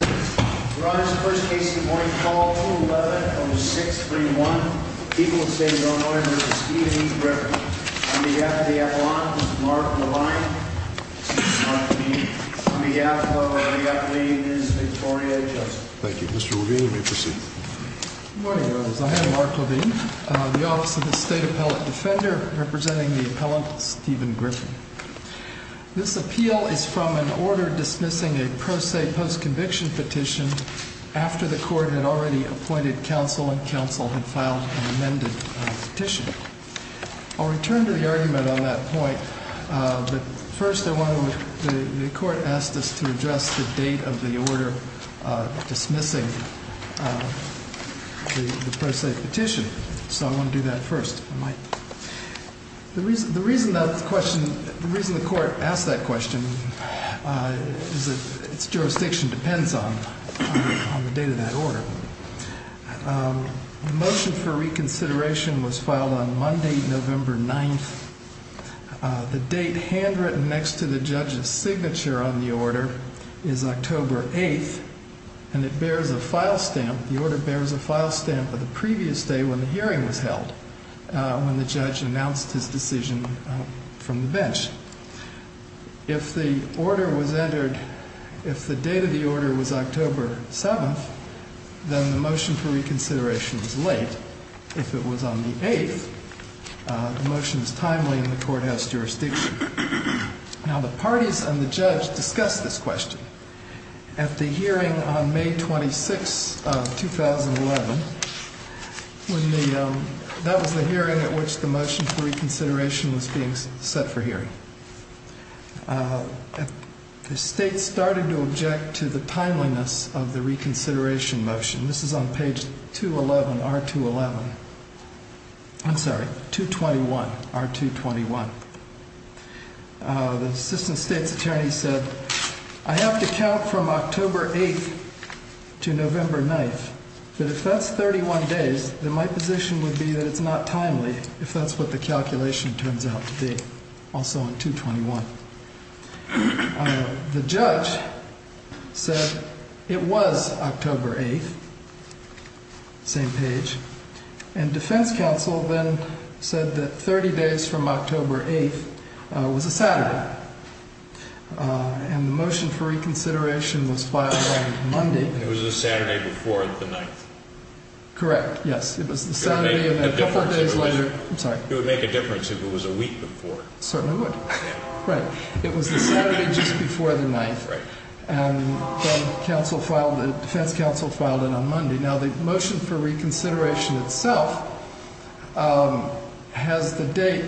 I have Mark Levine, the Office of the State Appellate Defender, representing the Appellant Stephen Griffin. This appeal is from an order dismissing a pro se post conviction petition after the court had already appointed counsel and counsel had filed an amended petition. I'll return to the argument on that point, but first I want to, the court asked us to address the date of the order dismissing the pro se petition, so I want to do that first. The reason the court asked that question is that its jurisdiction depends on the date of that order. The motion for reconsideration was filed on Monday, November 9th. The date handwritten next to the judge's signature on the order is October 8th, and it bears a file stamp, the order bears a file stamp of the previous day when the hearing was held, when the judge announced his decision from the bench. If the order was entered, if the date of the order was October 7th, then the motion for reconsideration was late. If it was on the 8th, the motion is timely in the courthouse jurisdiction. Now the parties and the judge discussed this question at the hearing on May 26th of 2011, when the, that was the hearing at which the motion for reconsideration was being set for hearing. The state started to object to the timeliness of the reconsideration motion. This is on page 211, R211, I'm sorry, 221, R221. The assistant state's attorney said, I have to count from October 8th to November 9th, but if that's 31 days, then my position would be that it's not timely if that's what the calculation turns out to be, also on 221. The judge said it was October 8th, same page, and defense counsel then said that 30 days from October 8th was a Saturday, and the motion for reconsideration was filed on Monday. It was a Saturday before the 9th. Correct, yes. It would make a difference if it was a week before. Certainly would. Right. It was a Saturday just before the 9th. Right. And then counsel filed, the defense counsel filed it on Monday. Now the motion for reconsideration itself has the date,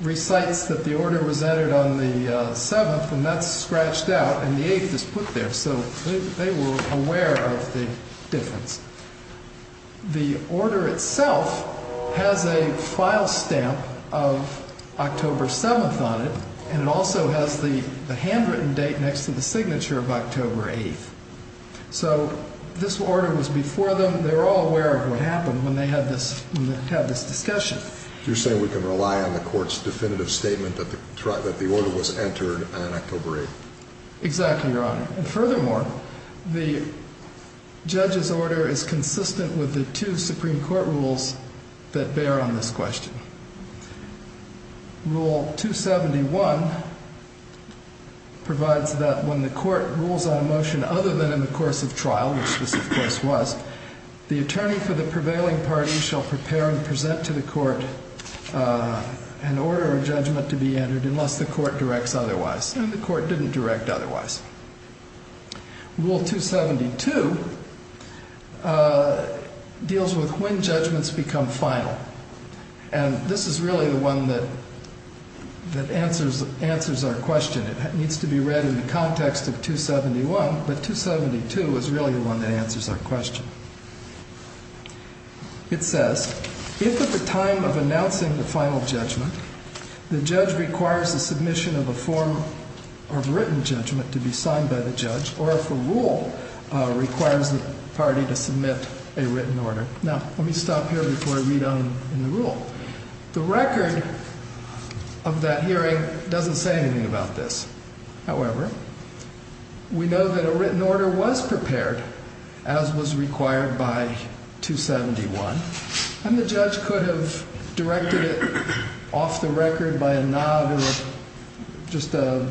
recites that the order was entered on the 7th, and that's scratched out, and the 8th is put there, so they were aware of the difference. The order itself has a file stamp of October 7th on it, and it also has the handwritten date next to the signature of October 8th. So this order was before them. They were all aware of what happened when they had this discussion. You're saying we can rely on the court's definitive statement that the order was entered on October 8th. Exactly, Your Honor. And furthermore, the judge's order is consistent with the two Supreme Court rules that bear on this question. Rule 271 provides that when the court rules on a motion other than in the course of trial, which this of course was, the attorney for the prevailing party shall prepare and present to the court an order or judgment to be entered unless the court directs otherwise. And the court didn't direct otherwise. Rule 272 deals with when judgments become final. And this is really the one that answers our question. It needs to be read in the context of 271, but 272 is really the one that answers our question. It says, if at the time of announcing the final judgment, the judge requires the submission of a form of written judgment to be signed by the judge, or if a rule requires the party to submit a written order. Now, let me stop here before I read on in the rule. The record of that hearing doesn't say anything about this. However, we know that a written order was prepared, as was required by 271, and the judge could have directed it off the record by a nod or just a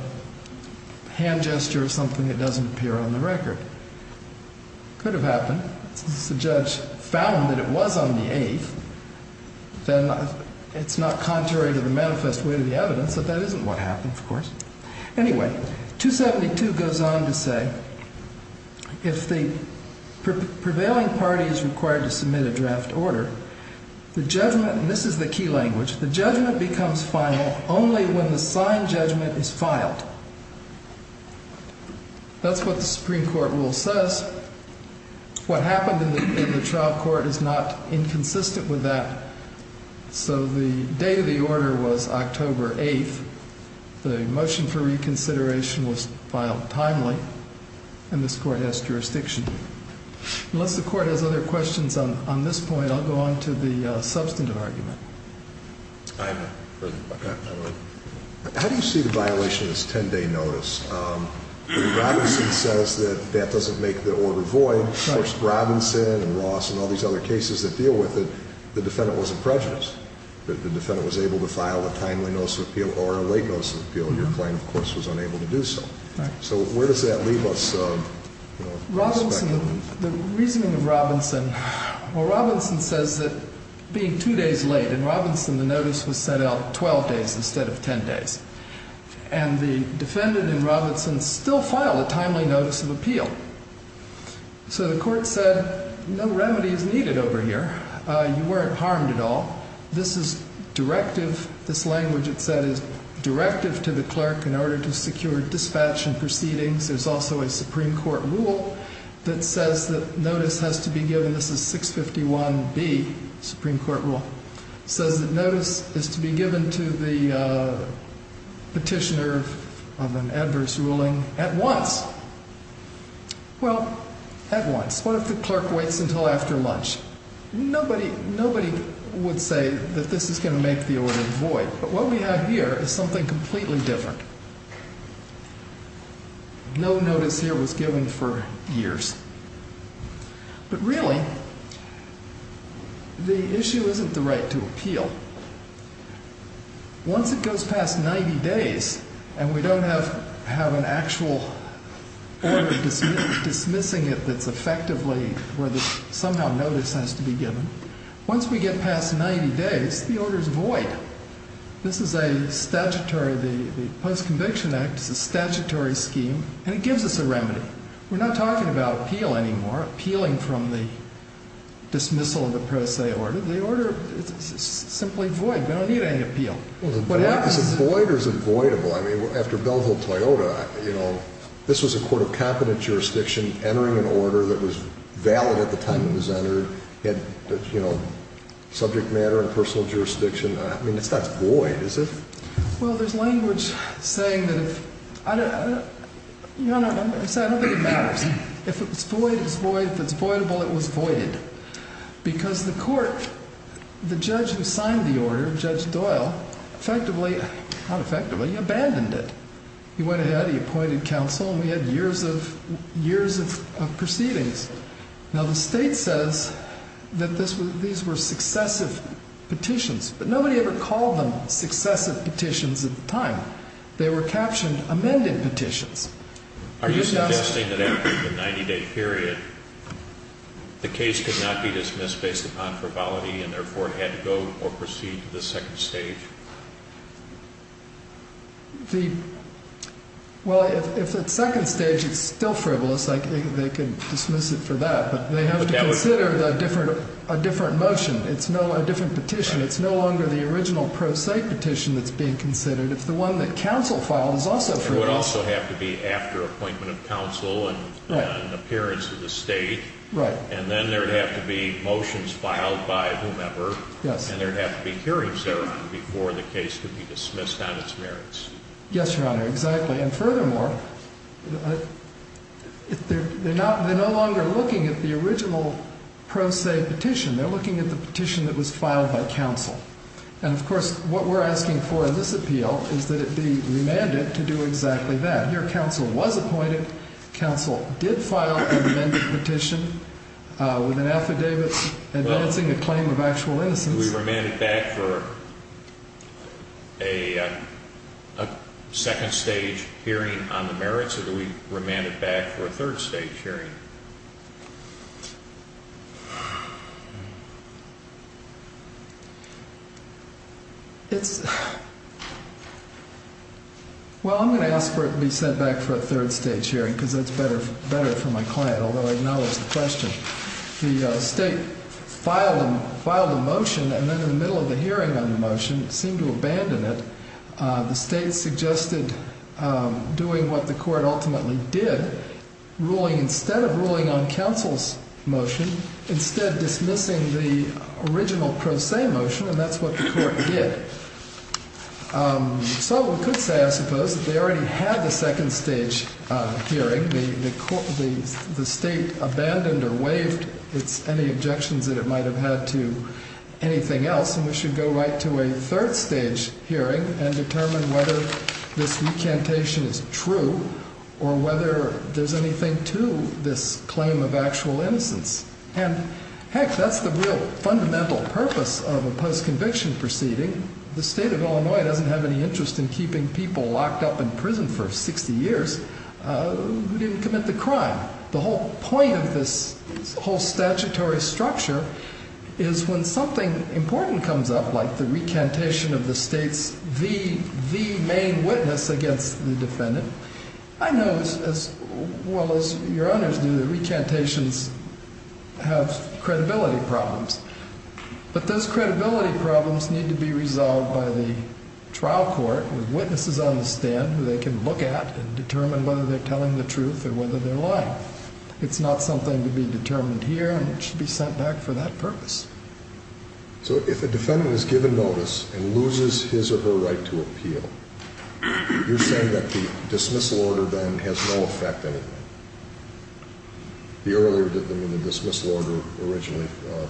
hand gesture or something that doesn't appear on the record. It could have happened. If the judge found that it was on the eighth, then it's not contrary to the manifest way to the evidence that that isn't what happened, of course. Anyway, 272 goes on to say, if the prevailing party is required to submit a draft order, the judgment, and this is the key language, the judgment becomes final only when the signed judgment is filed. That's what the Supreme Court rule says. What happened in the trial court is not inconsistent with that. So the date of the order was October 8th. The motion for reconsideration was filed timely, and this court has jurisdiction. Unless the court has other questions on this point, I'll go on to the substantive argument. I have no further questions. How do you see the violation of this 10-day notice? Robinson says that that doesn't make the order void. Of course, Robinson and Ross and all these other cases that deal with it, the defendant wasn't prejudiced. The defendant was able to file a timely notice of appeal or a late notice of appeal. Your claim, of course, was unable to do so. So where does that leave us? The reasoning of Robinson, well, Robinson says that being two days late in Robinson, the notice was set out 12 days instead of 10 days. And the defendant in Robinson still filed a timely notice of appeal. So the court said, no remedy is needed over here. You weren't harmed at all. This is directive. This language it said is directive to the clerk in order to secure dispatch and proceedings. There's also a Supreme Court rule that says that notice has to be given. This is 651B, Supreme Court rule. It says that notice is to be given to the petitioner of an adverse ruling at once. Well, at once. What if the clerk waits until after lunch? Nobody would say that this is going to make the order void. So what we have here is something completely different. No notice here was given for years. But really, the issue isn't the right to appeal. Once it goes past 90 days and we don't have an actual order dismissing it that's effectively where somehow notice has to be given, once we get past 90 days, the order is void. This is a statutory, the Post-Conviction Act is a statutory scheme, and it gives us a remedy. We're not talking about appeal anymore, appealing from the dismissal of the pro se order. The order is simply void. We don't need any appeal. Is it void or is it voidable? I mean, after Belleville-Toyota, you know, this was a court of competent jurisdiction entering an order that was valid at the time it was entered. It had, you know, subject matter and personal jurisdiction. I mean, it's not void, is it? Well, there's language saying that if, you know, I don't think it matters. If it's void, it's void. If it's voidable, it was voided. Because the court, the judge who signed the order, Judge Doyle, effectively, not effectively, abandoned it. He went ahead, he appointed counsel, and we had years of proceedings. Now, the state says that these were successive petitions, but nobody ever called them successive petitions at the time. They were captioned amended petitions. Are you suggesting that after the 90-day period, the case could not be dismissed based upon frivolity and therefore had to go or proceed to the second stage? The, well, if at second stage it's still frivolous, they could dismiss it for that. But they have to consider a different motion. It's a different petition. It's no longer the original pro se petition that's being considered. If the one that counsel filed is also frivolous. It would also have to be after appointment of counsel and appearance of the state. Right. And then there would have to be motions filed by whomever. Yes. And there would have to be hearings there before the case could be dismissed on its merits. Yes, Your Honor. Exactly. And furthermore, they're not, they're no longer looking at the original pro se petition. They're looking at the petition that was filed by counsel. And, of course, what we're asking for in this appeal is that it be remanded to do exactly that. Your counsel was appointed. Counsel did file an amended petition with an affidavit advancing a claim of actual innocence. Do we remand it back for a second stage hearing on the merits? Or do we remand it back for a third stage hearing? It's, well, I'm going to ask for it to be sent back for a third stage hearing because that's better for my client. Although I acknowledge the question. The state filed a motion and then in the middle of the hearing on the motion seemed to abandon it. The state suggested doing what the court ultimately did, ruling instead of ruling on counsel's motion, instead dismissing the original pro se motion, and that's what the court did. So we could say, I suppose, that they already had the second stage hearing. The state abandoned or waived any objections that it might have had to anything else. And we should go right to a third stage hearing and determine whether this recantation is true or whether there's anything to this claim of actual innocence. And, heck, that's the real fundamental purpose of a post-conviction proceeding. The state of Illinois doesn't have any interest in keeping people locked up in prison for 60 years. Who didn't commit the crime? The whole point of this whole statutory structure is when something important comes up, like the recantation of the state's the main witness against the defendant, I know as well as your honors do that recantations have credibility problems. But those credibility problems need to be resolved by the trial court with witnesses on the stand who they can look at and determine whether they're telling the truth or whether they're lying. It's not something to be determined here, and it should be sent back for that purpose. So if a defendant is given notice and loses his or her right to appeal, you're saying that the dismissal order then has no effect on it? The earlier, I mean, the dismissal order originally,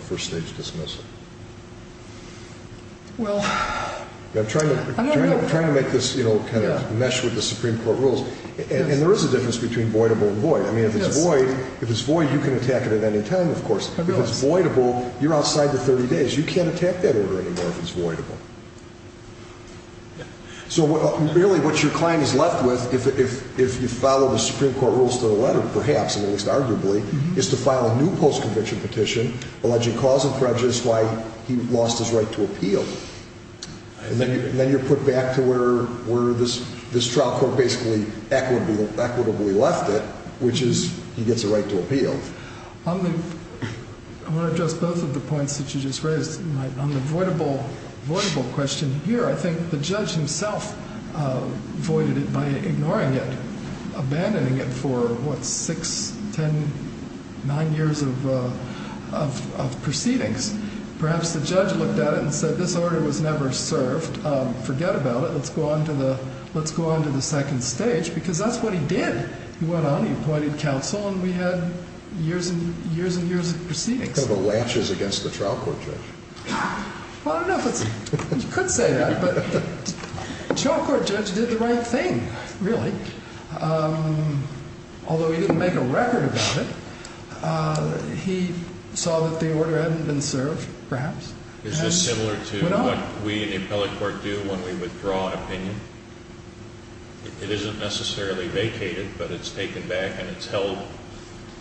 first stage dismissal. I'm trying to make this kind of mesh with the Supreme Court rules. And there is a difference between voidable and void. I mean, if it's void, you can attack it at any time, of course. If it's voidable, you're outside the 30 days. You can't attack that order anymore if it's voidable. So really what your client is left with, if you follow the Supreme Court rules to the letter, perhaps, is to file a new post-conviction petition alleging cause of prejudice, why he lost his right to appeal. And then you're put back to where this trial court basically equitably left it, which is he gets a right to appeal. I want to address both of the points that you just raised. On the voidable question here, I think the judge himself voided it by ignoring it, by abandoning it for, what, six, ten, nine years of proceedings. Perhaps the judge looked at it and said, this order was never served. Forget about it. Let's go on to the second stage, because that's what he did. He went on, he appointed counsel, and we had years and years and years of proceedings. The latches against the trial court judge. Well, I don't know if you could say that, but the trial court judge did the right thing, really. Although he didn't make a record about it, he saw that the order hadn't been served, perhaps, and went on. Is this similar to what we in the appellate court do when we withdraw an opinion? It isn't necessarily vacated, but it's taken back and it's held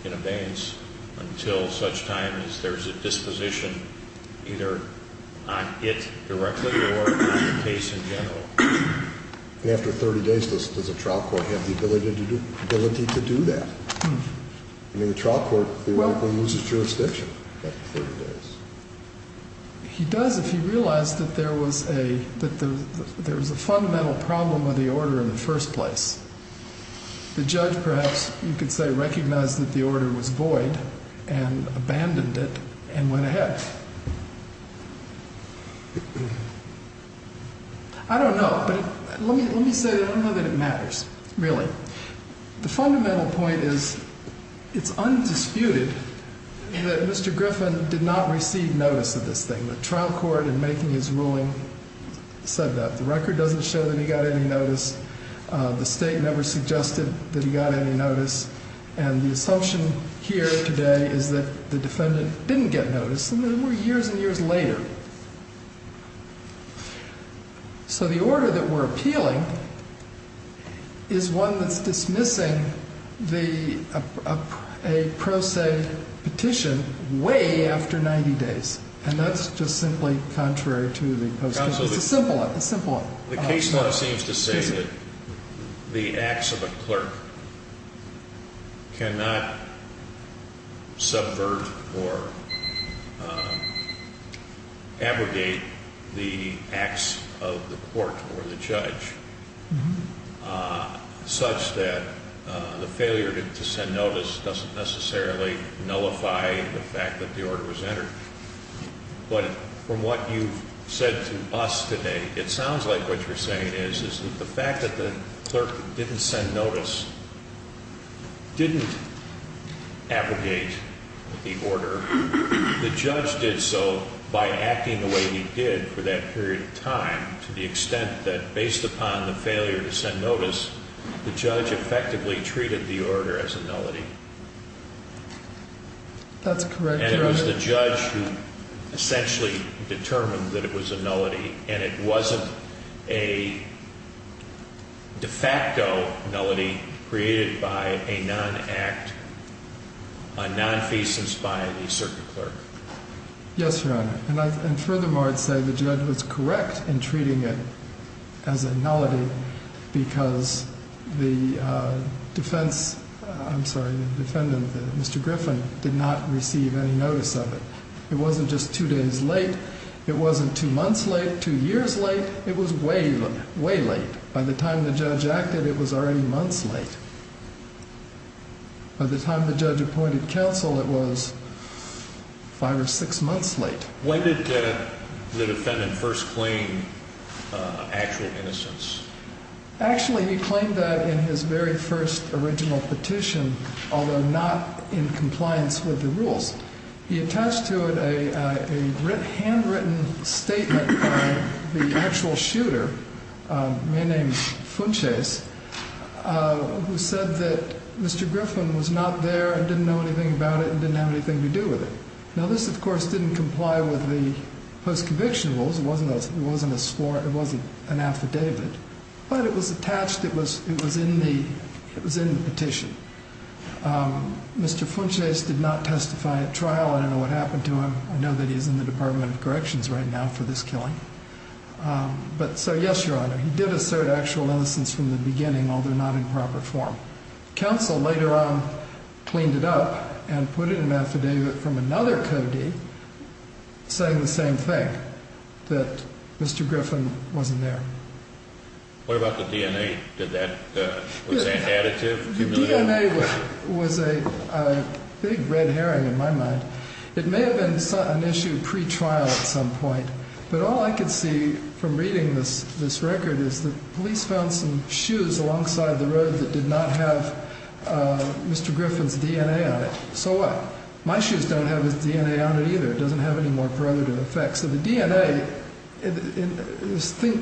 in abeyance until such time as there's a disposition either on it directly or on the case in general. After 30 days, does a trial court have the ability to do that? I mean, the trial court theoretically loses jurisdiction after 30 days. He does if he realized that there was a fundamental problem with the order in the first place. The judge, perhaps, you could say, recognized that the order was void and abandoned it and went ahead. I don't know, but let me say that I don't know that it matters, really. The fundamental point is it's undisputed that Mr. Griffin did not receive notice of this thing. The trial court, in making his ruling, said that. The record doesn't show that he got any notice. The state never suggested that he got any notice. And the assumption here today is that the defendant didn't get notice, and there were years and years later. So the order that we're appealing is one that's dismissing a pro se petition way after 90 days. And that's just simply contrary to the post. It's a simple one. The case law seems to say that the acts of a clerk cannot subvert or abrogate the acts of the court or the judge. Such that the failure to send notice doesn't necessarily nullify the fact that the order was entered. But from what you've said to us today, it sounds like what you're saying is, is that the fact that the clerk didn't send notice didn't abrogate the order. The judge did so by acting the way he did for that period of time, to the extent that based upon the failure to send notice, the judge effectively treated the order as a nullity. That's correct. And it was the judge who essentially determined that it was a nullity. And it wasn't a de facto nullity created by a non-act, a nonfeasance by the circuit clerk. Yes, Your Honor. And furthermore, I'd say the judge was correct in treating it as a nullity, because the defendant, Mr. Griffin, did not receive any notice of it. It wasn't just two days late. It wasn't two months late, two years late. It was way, way late. By the time the judge acted, it was already months late. By the time the judge appointed counsel, it was five or six months late. When did the defendant first claim actual innocence? Actually, he claimed that in his very first original petition, although not in compliance with the rules. He attached to it a handwritten statement by the actual shooter, a man named Funches, who said that Mr. Griffin was not there and didn't know anything about it and didn't have anything to do with it. Now, this, of course, didn't comply with the post-conviction rules. It wasn't a spore. It wasn't an affidavit. But it was attached. It was in the petition. Mr. Funches did not testify at trial. I don't know what happened to him. I know that he's in the Department of Corrections right now for this killing. But so, yes, Your Honor, he did assert actual innocence from the beginning, although not in proper form. Counsel later on cleaned it up and put it in an affidavit from another codee saying the same thing, that Mr. Griffin wasn't there. What about the DNA? Was that additive? The DNA was a big red herring in my mind. It may have been an issue pre-trial at some point. But all I could see from reading this record is the police found some shoes alongside the road that did not have Mr. Griffin's DNA on it. So what? My shoes don't have his DNA on it either. It doesn't have any more preventative effects. So the DNA,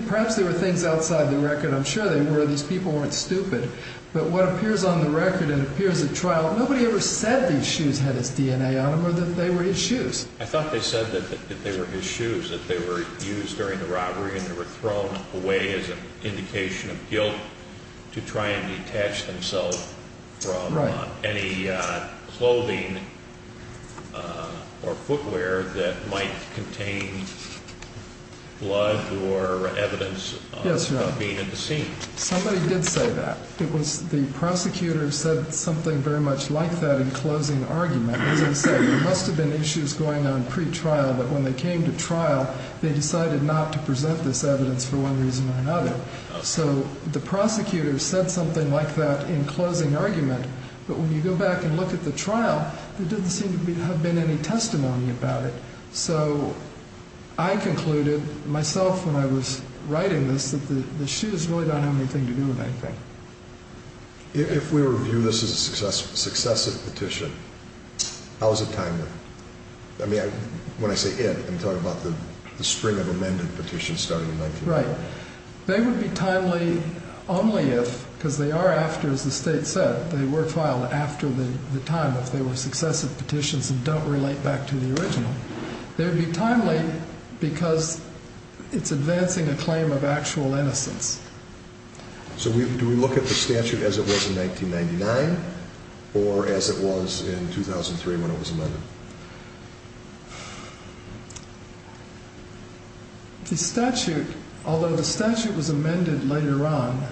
perhaps there were things outside the record. I'm sure there were. These people weren't stupid. But what appears on the record and appears at trial, nobody ever said these shoes had his DNA on them or that they were his shoes. I thought they said that they were his shoes, that they were used during the robbery and they were thrown away as an indication of guilt to try and detach themselves from any clothing or footwear that might contain blood or evidence of being a deceit. Yes, Your Honor. Somebody did say that. The prosecutor said something very much like that in closing argument. As I said, there must have been issues going on pre-trial. But when they came to trial, they decided not to present this evidence for one reason or another. So the prosecutor said something like that in closing argument. But when you go back and look at the trial, there didn't seem to have been any testimony about it. So I concluded myself when I was writing this that the shoes really don't have anything to do with anything. If we were to view this as a successive petition, how is it timely? I mean, when I say it, I'm talking about the string of amended petitions starting in 1994. Right. They would be timely only if, because they are after, as the state said, they were filed after the time, if they were successive petitions and don't relate back to the original. They would be timely because it's advancing a claim of actual innocence. So do we look at the statute as it was in 1999 or as it was in 2003 when it was amended? The statute, although the statute was amended later on,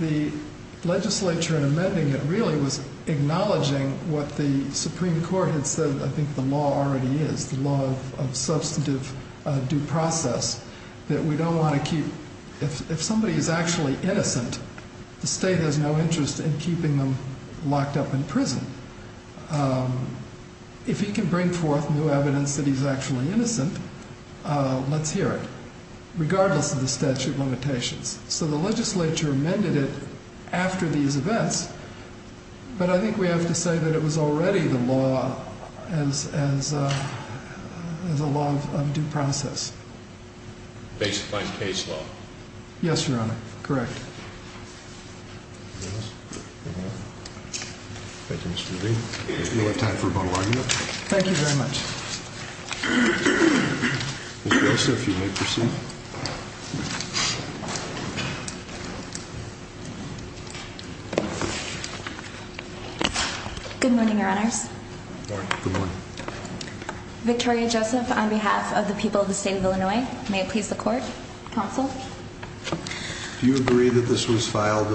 the legislature amending it really was acknowledging what the Supreme Court had said I think the law already is, the law of substantive due process, that we don't want to keep, if somebody is actually innocent, the state has no interest in keeping them locked up in prison. If he can bring forth new evidence that he's actually innocent, let's hear it, regardless of the statute limitations. So the legislature amended it after these events, but I think we have to say that it was already the law as a law of due process. Basifying case law. Yes, Your Honor, correct. Thank you, Mr. Green. We'll have time for a vote of argument. Thank you very much. Mr. Yoster, if you may proceed. Thank you. Good morning, Your Honors. Good morning. Victoria Joseph, on behalf of the people of the state of Illinois, may it please the court, counsel. Do you agree that this was filed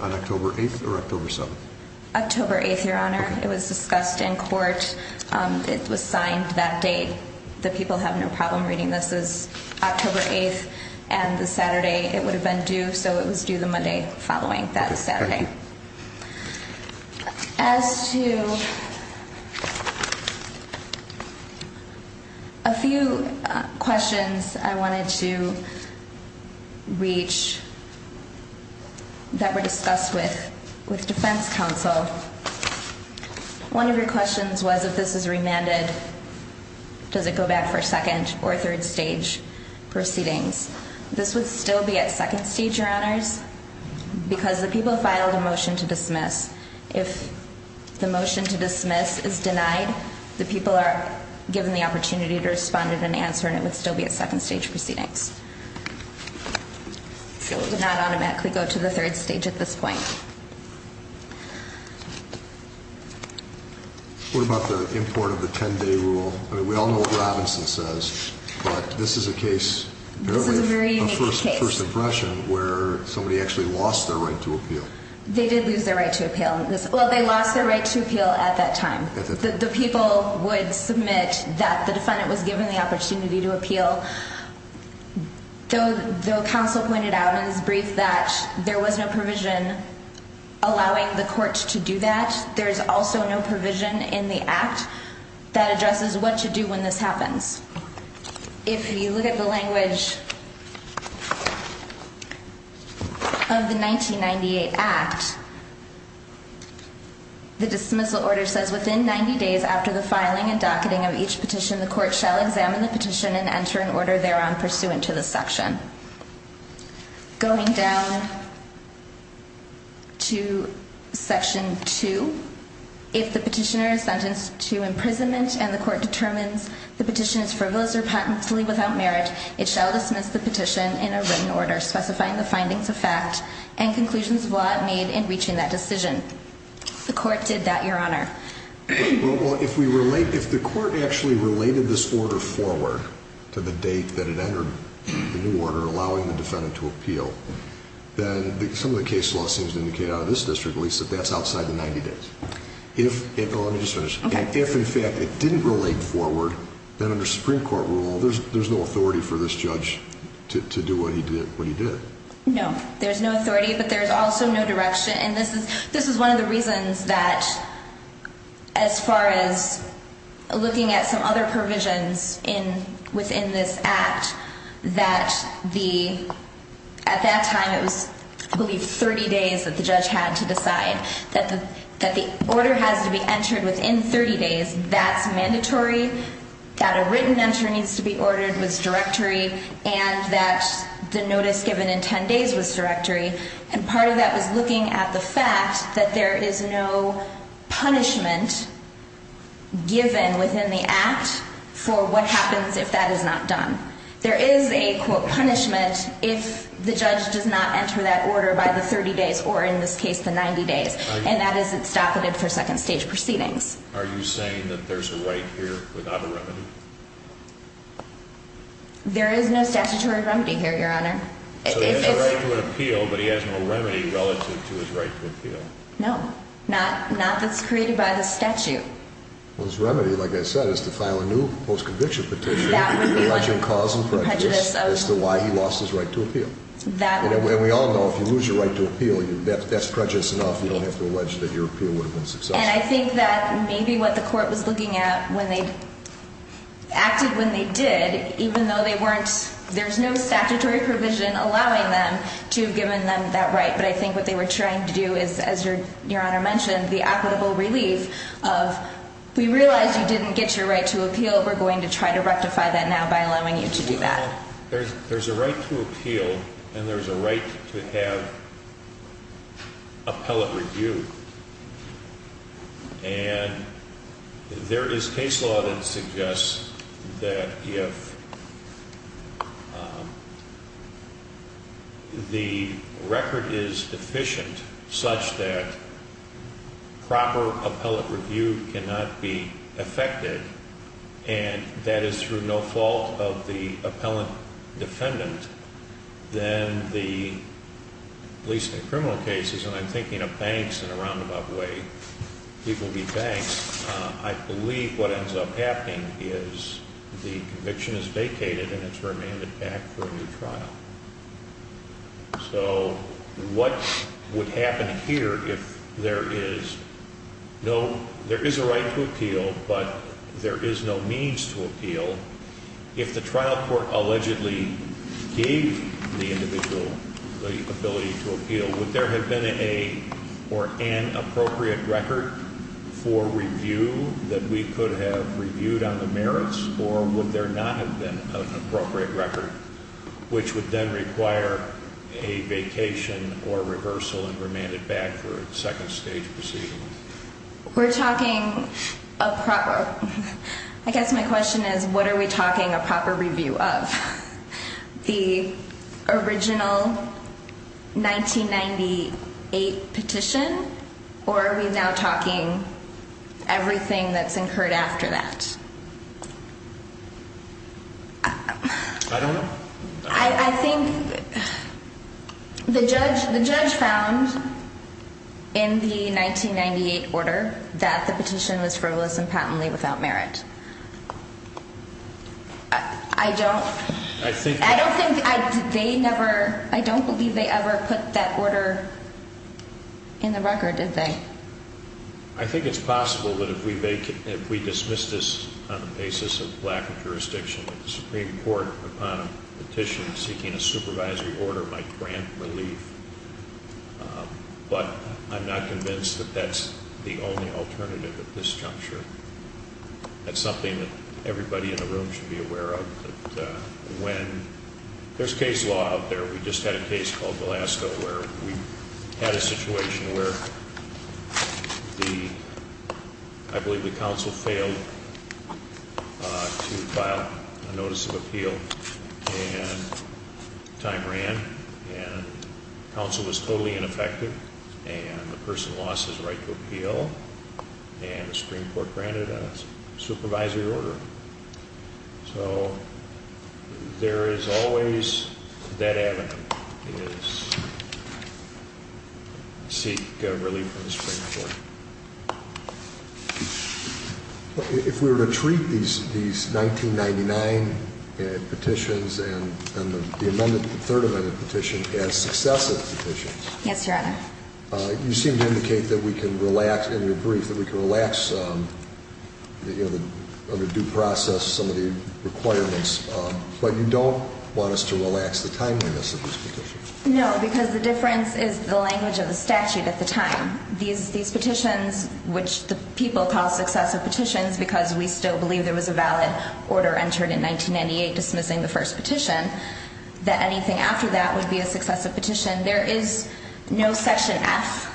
on October 8th or October 7th? October 8th, Your Honor. It was discussed in court. It was signed that day. The people have no problem reading this. This is October 8th, and the Saturday, it would have been due, so it was due the Monday following. That is Saturday. As to a few questions I wanted to reach that were discussed with defense counsel, one of your questions was if this is remanded, does it go back for second or third stage proceedings? This would still be at second stage, Your Honors, because the people filed a motion to dismiss. If the motion to dismiss is denied, the people are given the opportunity to respond and answer, and it would still be at second stage proceedings. So it would not automatically go to the third stage at this point. What about the import of the 10-day rule? I mean, we all know what Robinson says, but this is a case, apparently a first impression, where somebody actually lost their right to appeal. They did lose their right to appeal. Well, they lost their right to appeal at that time. The people would submit that the defendant was given the opportunity to appeal, so the counsel pointed out in his brief that there was no provision allowing the court to do that. There is also no provision in the Act that addresses what to do when this happens. If you look at the language of the 1998 Act, the dismissal order says, within 90 days after the filing and docketing of each petition, the court shall examine the petition and enter an order thereon pursuant to this section. Going down to Section 2, if the petitioner is sentenced to imprisonment and the court determines the petition is frivolous or patently without merit, it shall dismiss the petition in a written order specifying the findings of fact and conclusions of law it made in reaching that decision. The court did that, Your Honor. Well, if the court actually related this order forward to the date that it entered the new order allowing the defendant to appeal, then some of the case law seems to indicate out of this district at least that that's outside the 90 days. Let me just finish. If, in fact, it didn't relate forward, then under Supreme Court rule, there's no authority for this judge to do what he did. No, there's no authority, but there's also no direction. And this is one of the reasons that, as far as looking at some other provisions within this act, that at that time it was, I believe, 30 days that the judge had to decide that the order has to be entered within 30 days. That's mandatory, that a written enter needs to be ordered was directory, and that the notice given in 10 days was directory. And part of that was looking at the fact that there is no punishment given within the act for what happens if that is not done. There is a, quote, punishment if the judge does not enter that order by the 30 days or, in this case, the 90 days, and that isn't stoppative for second stage proceedings. Are you saying that there's a right here without a remedy? There is no statutory remedy here, Your Honor. So he has a right to an appeal, but he has no remedy relative to his right to appeal? No, not that's created by the statute. Well, his remedy, like I said, is to file a new post-conviction petition alleging cause and prejudice as to why he lost his right to appeal. And we all know if you lose your right to appeal, that's prejudice enough. You don't have to allege that your appeal would have been successful. And I think that maybe what the court was looking at when they acted when they did, even though they weren't – there's no statutory provision allowing them to have given them that right, but I think what they were trying to do is, as Your Honor mentioned, the equitable relief of, we realize you didn't get your right to appeal. We're going to try to rectify that now by allowing you to do that. Well, there's a right to appeal and there's a right to have appellate review. And there is case law that suggests that if the record is deficient such that proper appellate review cannot be effected, and that is through no fault of the appellant defendant, then the police and criminal cases, and I'm thinking of banks in a roundabout way, people be banks, I believe what ends up happening is the conviction is vacated and it's remanded back for a new trial. So what would happen here if there is – no, there is a right to appeal, but there is no means to appeal. If the trial court allegedly gave the individual the ability to appeal, would there have been a – or an appropriate record for review that we could have reviewed on the merits, or would there not have been an appropriate record, which would then require a vacation or a rehearsal and remanded back for a second stage proceeding? We're talking a proper – I guess my question is what are we talking a proper review of? The original 1998 petition, or are we now talking everything that's incurred after that? I don't know. I think the judge found in the 1998 order that the petition was frivolous and patently without merit. I don't – I don't think they never – I don't believe they ever put that order in the record, did they? I think it's possible that if we vacate – if we dismiss this on the basis of lack of jurisdiction, that the Supreme Court, upon a petition seeking a supervisory order, might grant relief. But I'm not convinced that that's the only alternative at this juncture. That's something that everybody in the room should be aware of, that when – there's case law out there. We just had a case called Glasgow where we had a situation where the – I believe the counsel failed to file a notice of appeal, and time ran, and counsel was totally ineffective, and the person lost his right to appeal, and the Supreme Court granted a supervisory order. So there is always that avenue, is seek relief from the Supreme Court. If we were to treat these 1999 petitions and the third amended petition as successive petitions – Yes, Your Honor. You seem to indicate that we can relax – in your brief, that we can relax the due process, some of the requirements, but you don't want us to relax the timeliness of this petition. No, because the difference is the language of the statute at the time. These petitions, which the people call successive petitions because we still believe there was a valid order entered in 1998 dismissing the first petition, that anything after that would be a successive petition. There is no section F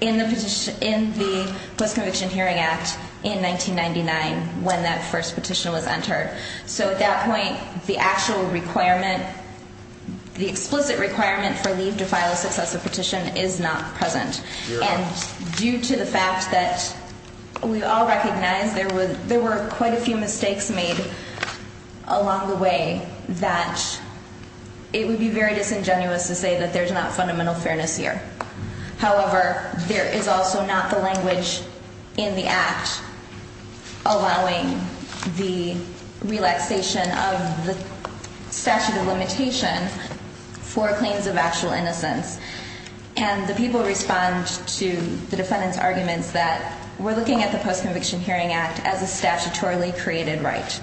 in the Petition – in the Post-Conviction Hearing Act in 1999 when that first petition was entered. So at that point, the actual requirement – the explicit requirement for leave to file a successive petition is not present. Your Honor. And due to the fact that we all recognize there were quite a few mistakes made along the way, that it would be very disingenuous to say that there's not fundamental fairness here. However, there is also not the language in the Act allowing the relaxation of the statute of limitation for claims of actual innocence. And the people respond to the defendant's arguments that we're looking at the Post-Conviction Hearing Act as a statutorily created right.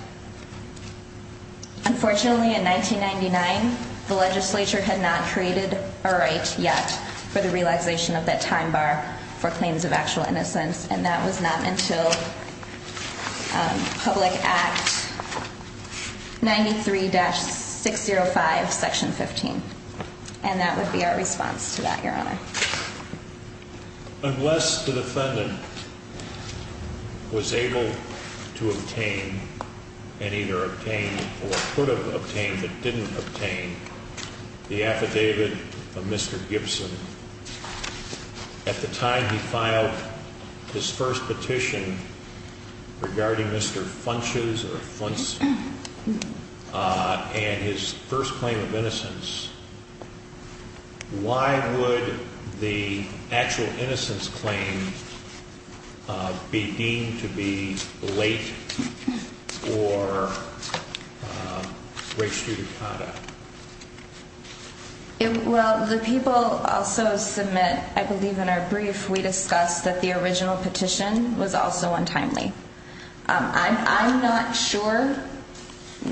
Unfortunately, in 1999, the legislature had not created a right yet for the relaxation of that time bar for claims of actual innocence, and that was not until Public Act 93-605, Section 15. And that would be our response to that, Your Honor. Unless the defendant was able to obtain and either obtained or could have obtained but didn't obtain the affidavit of Mr. Gibson, at the time he filed his first petition regarding Mr. Funches or Funtz and his first claim of innocence, why would the actual innocence claim be deemed to be late or restituted conduct? Well, the people also submit, I believe in our brief, we discussed that the original petition was also untimely. I'm not sure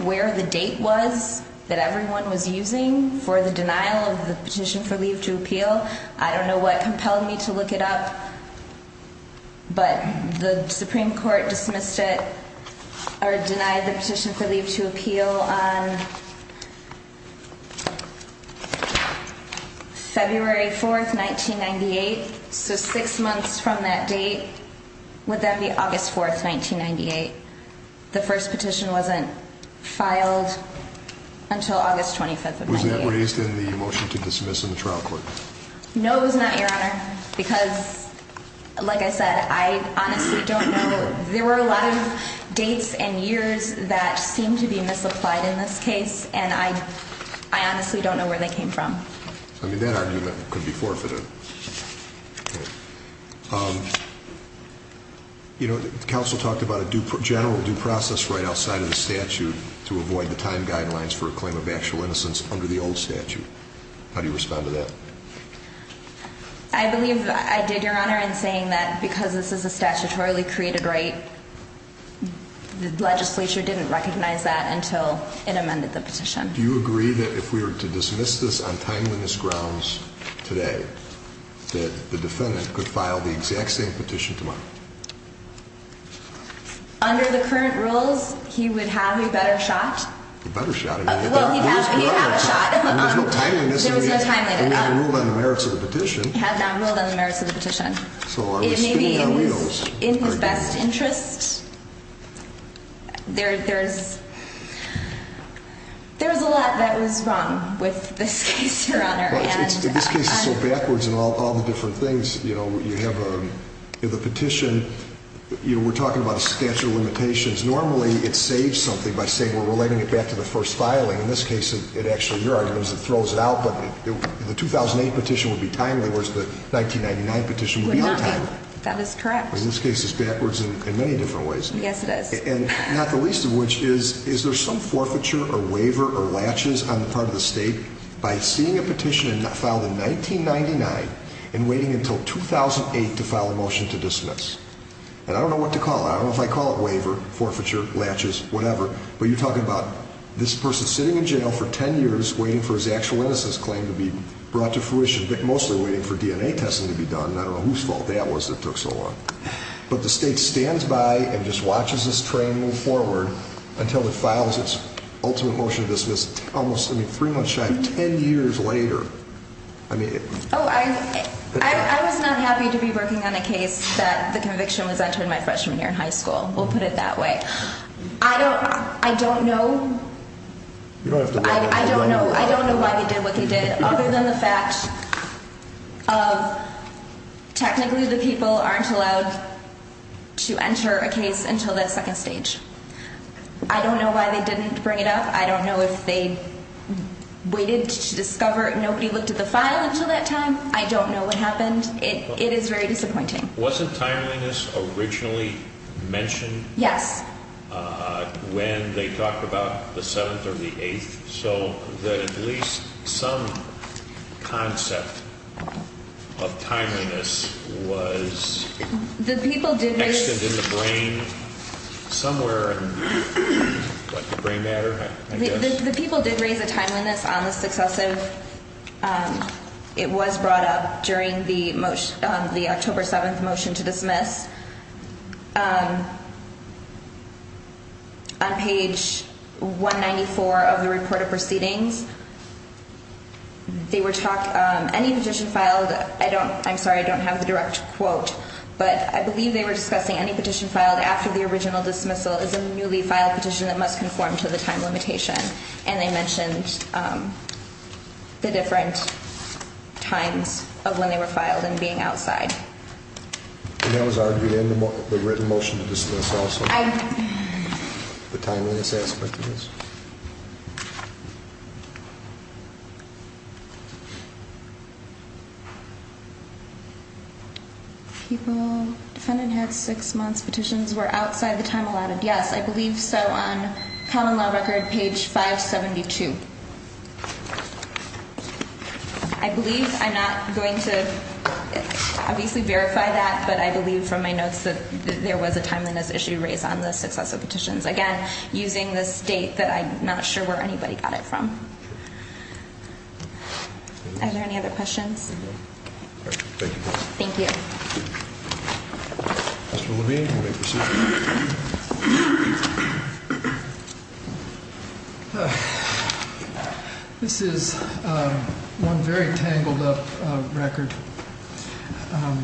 where the date was that everyone was using for the denial of the petition for leave to appeal. I don't know what compelled me to look it up, but the Supreme Court dismissed it or denied the petition for leave to appeal on February 4th, 1998. So six months from that date would then be August 4th, 1998. The first petition wasn't filed until August 25th of 1998. Was it raised in the motion to dismiss in the trial court? No, it was not, Your Honor, because, like I said, I honestly don't know. There were a lot of dates and years that seemed to be misapplied in this case, and I honestly don't know where they came from. I mean, that argument could be forfeited. You know, counsel talked about a general due process right outside of the statute to avoid the time guidelines for a claim of actual innocence under the old statute. How do you respond to that? I believe I did, Your Honor, in saying that because this is a statutorily created right, the legislature didn't recognize that until it amended the petition. Do you agree that if we were to dismiss this on timeliness grounds today, that the defendant could file the exact same petition tomorrow? Under the current rules, he would have a better shot. A better shot? Well, he'd have a shot. There was no timeliness in it. There was no timeliness. It had not ruled on the merits of the petition. It had not ruled on the merits of the petition. So are we spinning our wheels? In his best interest. There's a lot that was wrong with this case, Your Honor. In this case, it's so backwards in all the different things. You know, you have the petition. You know, we're talking about a statute of limitations. Normally, it saves something by saying we're relating it back to the first filing. In this case, it actually, your argument is it throws it out, but the 2008 petition would be timely, whereas the 1999 petition would be on time. That is correct. In this case, it's backwards in many different ways. Yes, it is. And not the least of which is, is there some forfeiture or waiver or latches on the part of the state by seeing a petition filed in 1999 and waiting until 2008 to file a motion to dismiss? And I don't know what to call it. I don't know if I call it waiver, forfeiture, latches, whatever. But you're talking about this person sitting in jail for 10 years waiting for his actual innocence claim to be brought to fruition, but mostly waiting for DNA testing to be done. I don't know whose fault that was that took so long. But the state stands by and just watches this train move forward until it files its ultimate motion to dismiss almost, I mean, three months shy of 10 years later. Oh, I was not happy to be working on a case that the conviction was entered my freshman year in high school. We'll put it that way. I don't know. I don't know. I don't know why they did what they did, other than the fact of technically the people aren't allowed to enter a case until that second stage. I don't know why they didn't bring it up. I don't know if they waited to discover. Nobody looked at the file until that time. I don't know what happened. It is very disappointing. Wasn't timeliness originally mentioned? Yes. When they talked about the 7th or the 8th, so that at least some concept of timeliness was... The people did raise... Extended in the brain somewhere in the brain matter, I guess. The people did raise a timeliness on the successive, it was brought up during the October 7th motion to dismiss. On page 194 of the report of proceedings, they were talking... Any petition filed... I'm sorry, I don't have the direct quote, but I believe they were discussing any petition filed after the original dismissal is a newly filed petition that must conform to the time limitation. And they mentioned the different times of when they were filed and being outside. And that was argued in the written motion to dismiss also? I... The timeliness aspect of this? People... Defendant had six months. Petitions were outside the time allotted. Yes, I believe so on Common Law Record, page 572. I believe I'm not going to obviously verify that, but I believe from my notes that there was a timeliness issue raised on the successive petitions. Again, using the state that I'm not sure where anybody got it from. Are there any other questions? Thank you. Thank you. Mr. Levine, you may proceed. This is one very tangled up record. I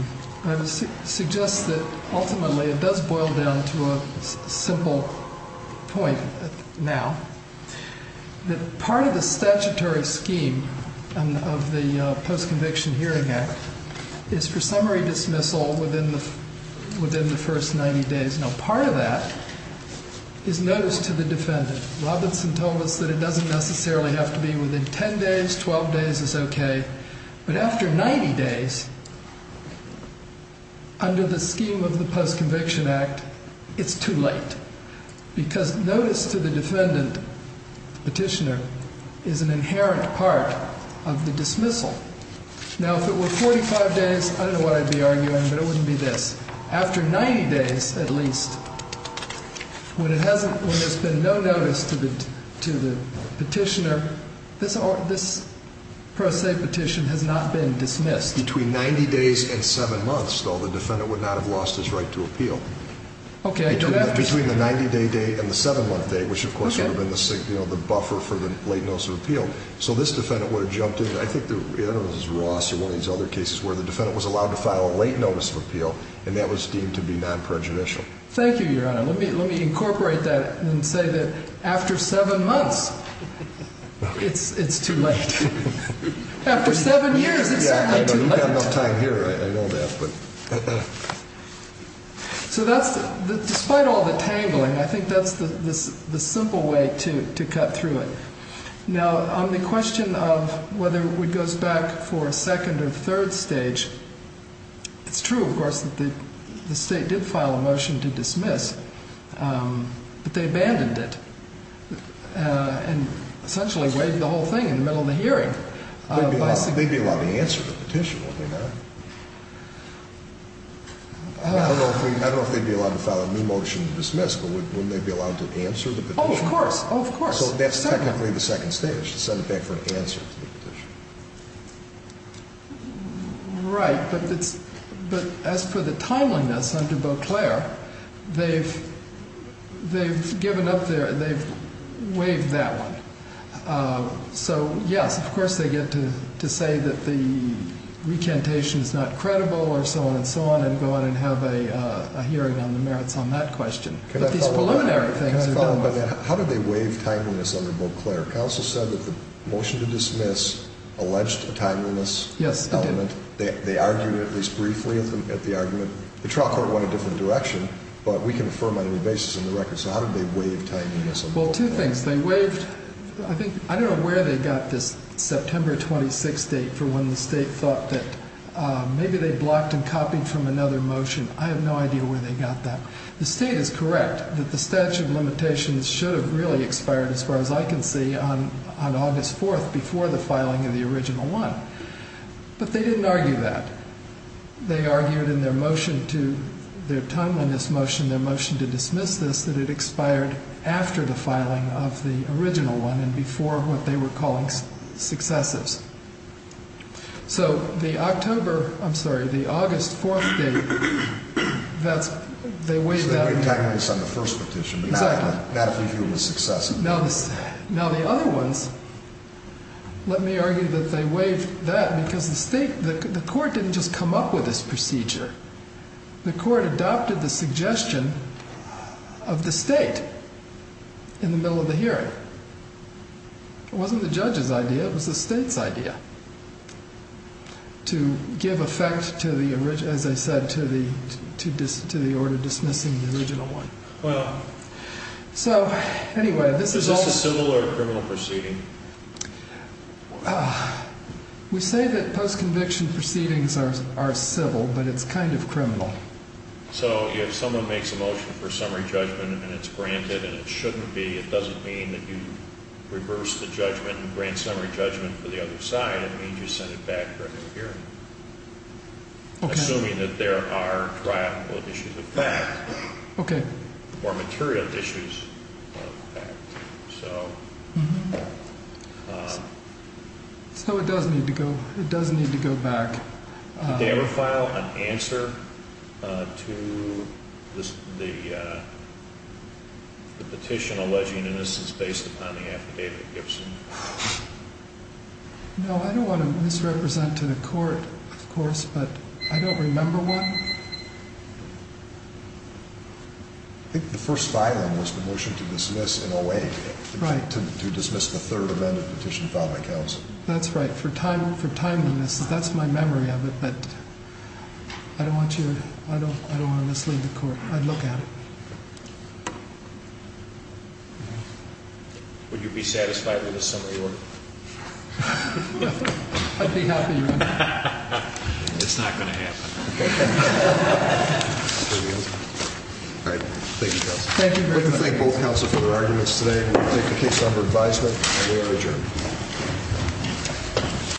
would suggest that ultimately it does boil down to a simple point now. That part of the statutory scheme of the Post-Conviction Hearing Act is for summary dismissal within the first 90 days. Now, part of that is notice to the defendant. Robinson told us that it doesn't necessarily have to be within 10 days, 12 days is okay. But after 90 days, under the scheme of the Post-Conviction Act, it's too late. Because notice to the defendant, petitioner, is an inherent part of the dismissal. Now, if it were 45 days, I don't know what I'd be arguing, but it wouldn't be this. After 90 days, at least, when there's been no notice to the petitioner, this per se petition has not been dismissed. Between 90 days and 7 months, though, the defendant would not have lost his right to appeal. Okay, I don't have to. Between the 90-day day and the 7-month day, which of course would have been the buffer for the late notice of appeal. So this defendant would have jumped in. I think it was Ross or one of these other cases where the defendant was allowed to file a late notice of appeal, and that was deemed to be non-prejudicial. Thank you, Your Honor. Let me incorporate that and say that after 7 months, it's too late. After 7 years, it's certainly too late. You've got enough time here, I know that. So that's, despite all the tabling, I think that's the simple way to cut through it. Now, on the question of whether it goes back for a second or third stage, it's true, of course, that the State did file a motion to dismiss, but they abandoned it and essentially waived the whole thing in the middle of the hearing. They'd be allowed to answer the petition, wouldn't they not? I don't know if they'd be allowed to file a new motion to dismiss, but wouldn't they be allowed to answer the petition? Oh, of course. So that's technically the second stage, to send it back for an answer to the petition. Right, but as for the timeliness under Beauclair, they've given up there, they've waived that one. So, yes, of course they get to say that the recantation is not credible or so on and so on and go on and have a hearing on the merits on that question. But these preliminary things are done with. How did they waive timeliness under Beauclair? Counsel said that the motion to dismiss alleged a timeliness element. Yes, it did. They argued at least briefly at the argument. The trial court went a different direction, but we can affirm on any basis in the record. So how did they waive timeliness under Beauclair? Well, two things. They waived, I think, I don't know where they got this September 26 date for when the State thought that maybe they blocked and copied from another motion. I have no idea where they got that. The State is correct that the statute of limitations should have really expired as far as I can see on August 4th before the filing of the original one. But they didn't argue that. They argued in their motion to, their timeliness motion, their motion to dismiss this, that it expired after the filing of the original one and before what they were calling successives. So the October, I'm sorry, the August 4th date, that's, they waived that. So they waived timeliness on the first petition. Exactly. Not if you view it as successive. Now the other ones, let me argue that they waived that because the State, the court didn't just come up with this procedure. The court adopted the suggestion of the State in the middle of the hearing. It wasn't the judge's idea. It was the State's idea to give effect to the, as I said, to the order dismissing the original one. Well, is this a civil or a criminal proceeding? We say that post-conviction proceedings are civil, but it's kind of criminal. So if someone makes a motion for summary judgment and it's granted and it shouldn't be, it doesn't mean that you reverse the judgment and grant summary judgment for the other side. It means you send it back for a new hearing. Okay. Assuming that there are triumphal issues of fact. Okay. Or material issues of fact. So it does need to go, it does need to go back. Did they ever file an answer to the petition alleging innocence based upon the affidavit of Gibson? No, I don't want to misrepresent to the court, of course, but I don't remember one. I think the first filing was the motion to dismiss in OA. Right. To dismiss the third amendment petition filed by counsel. That's right. For timeliness, that's my memory of it, but I don't want to mislead the court. I'd look at it. Would you be satisfied with the summary order? I'd be happy with it. It's not going to happen. All right. Thank you, counsel. Thank you very much. I'd like to thank both counsel for their arguments today. We'll take the case under advisement, and we are adjourned.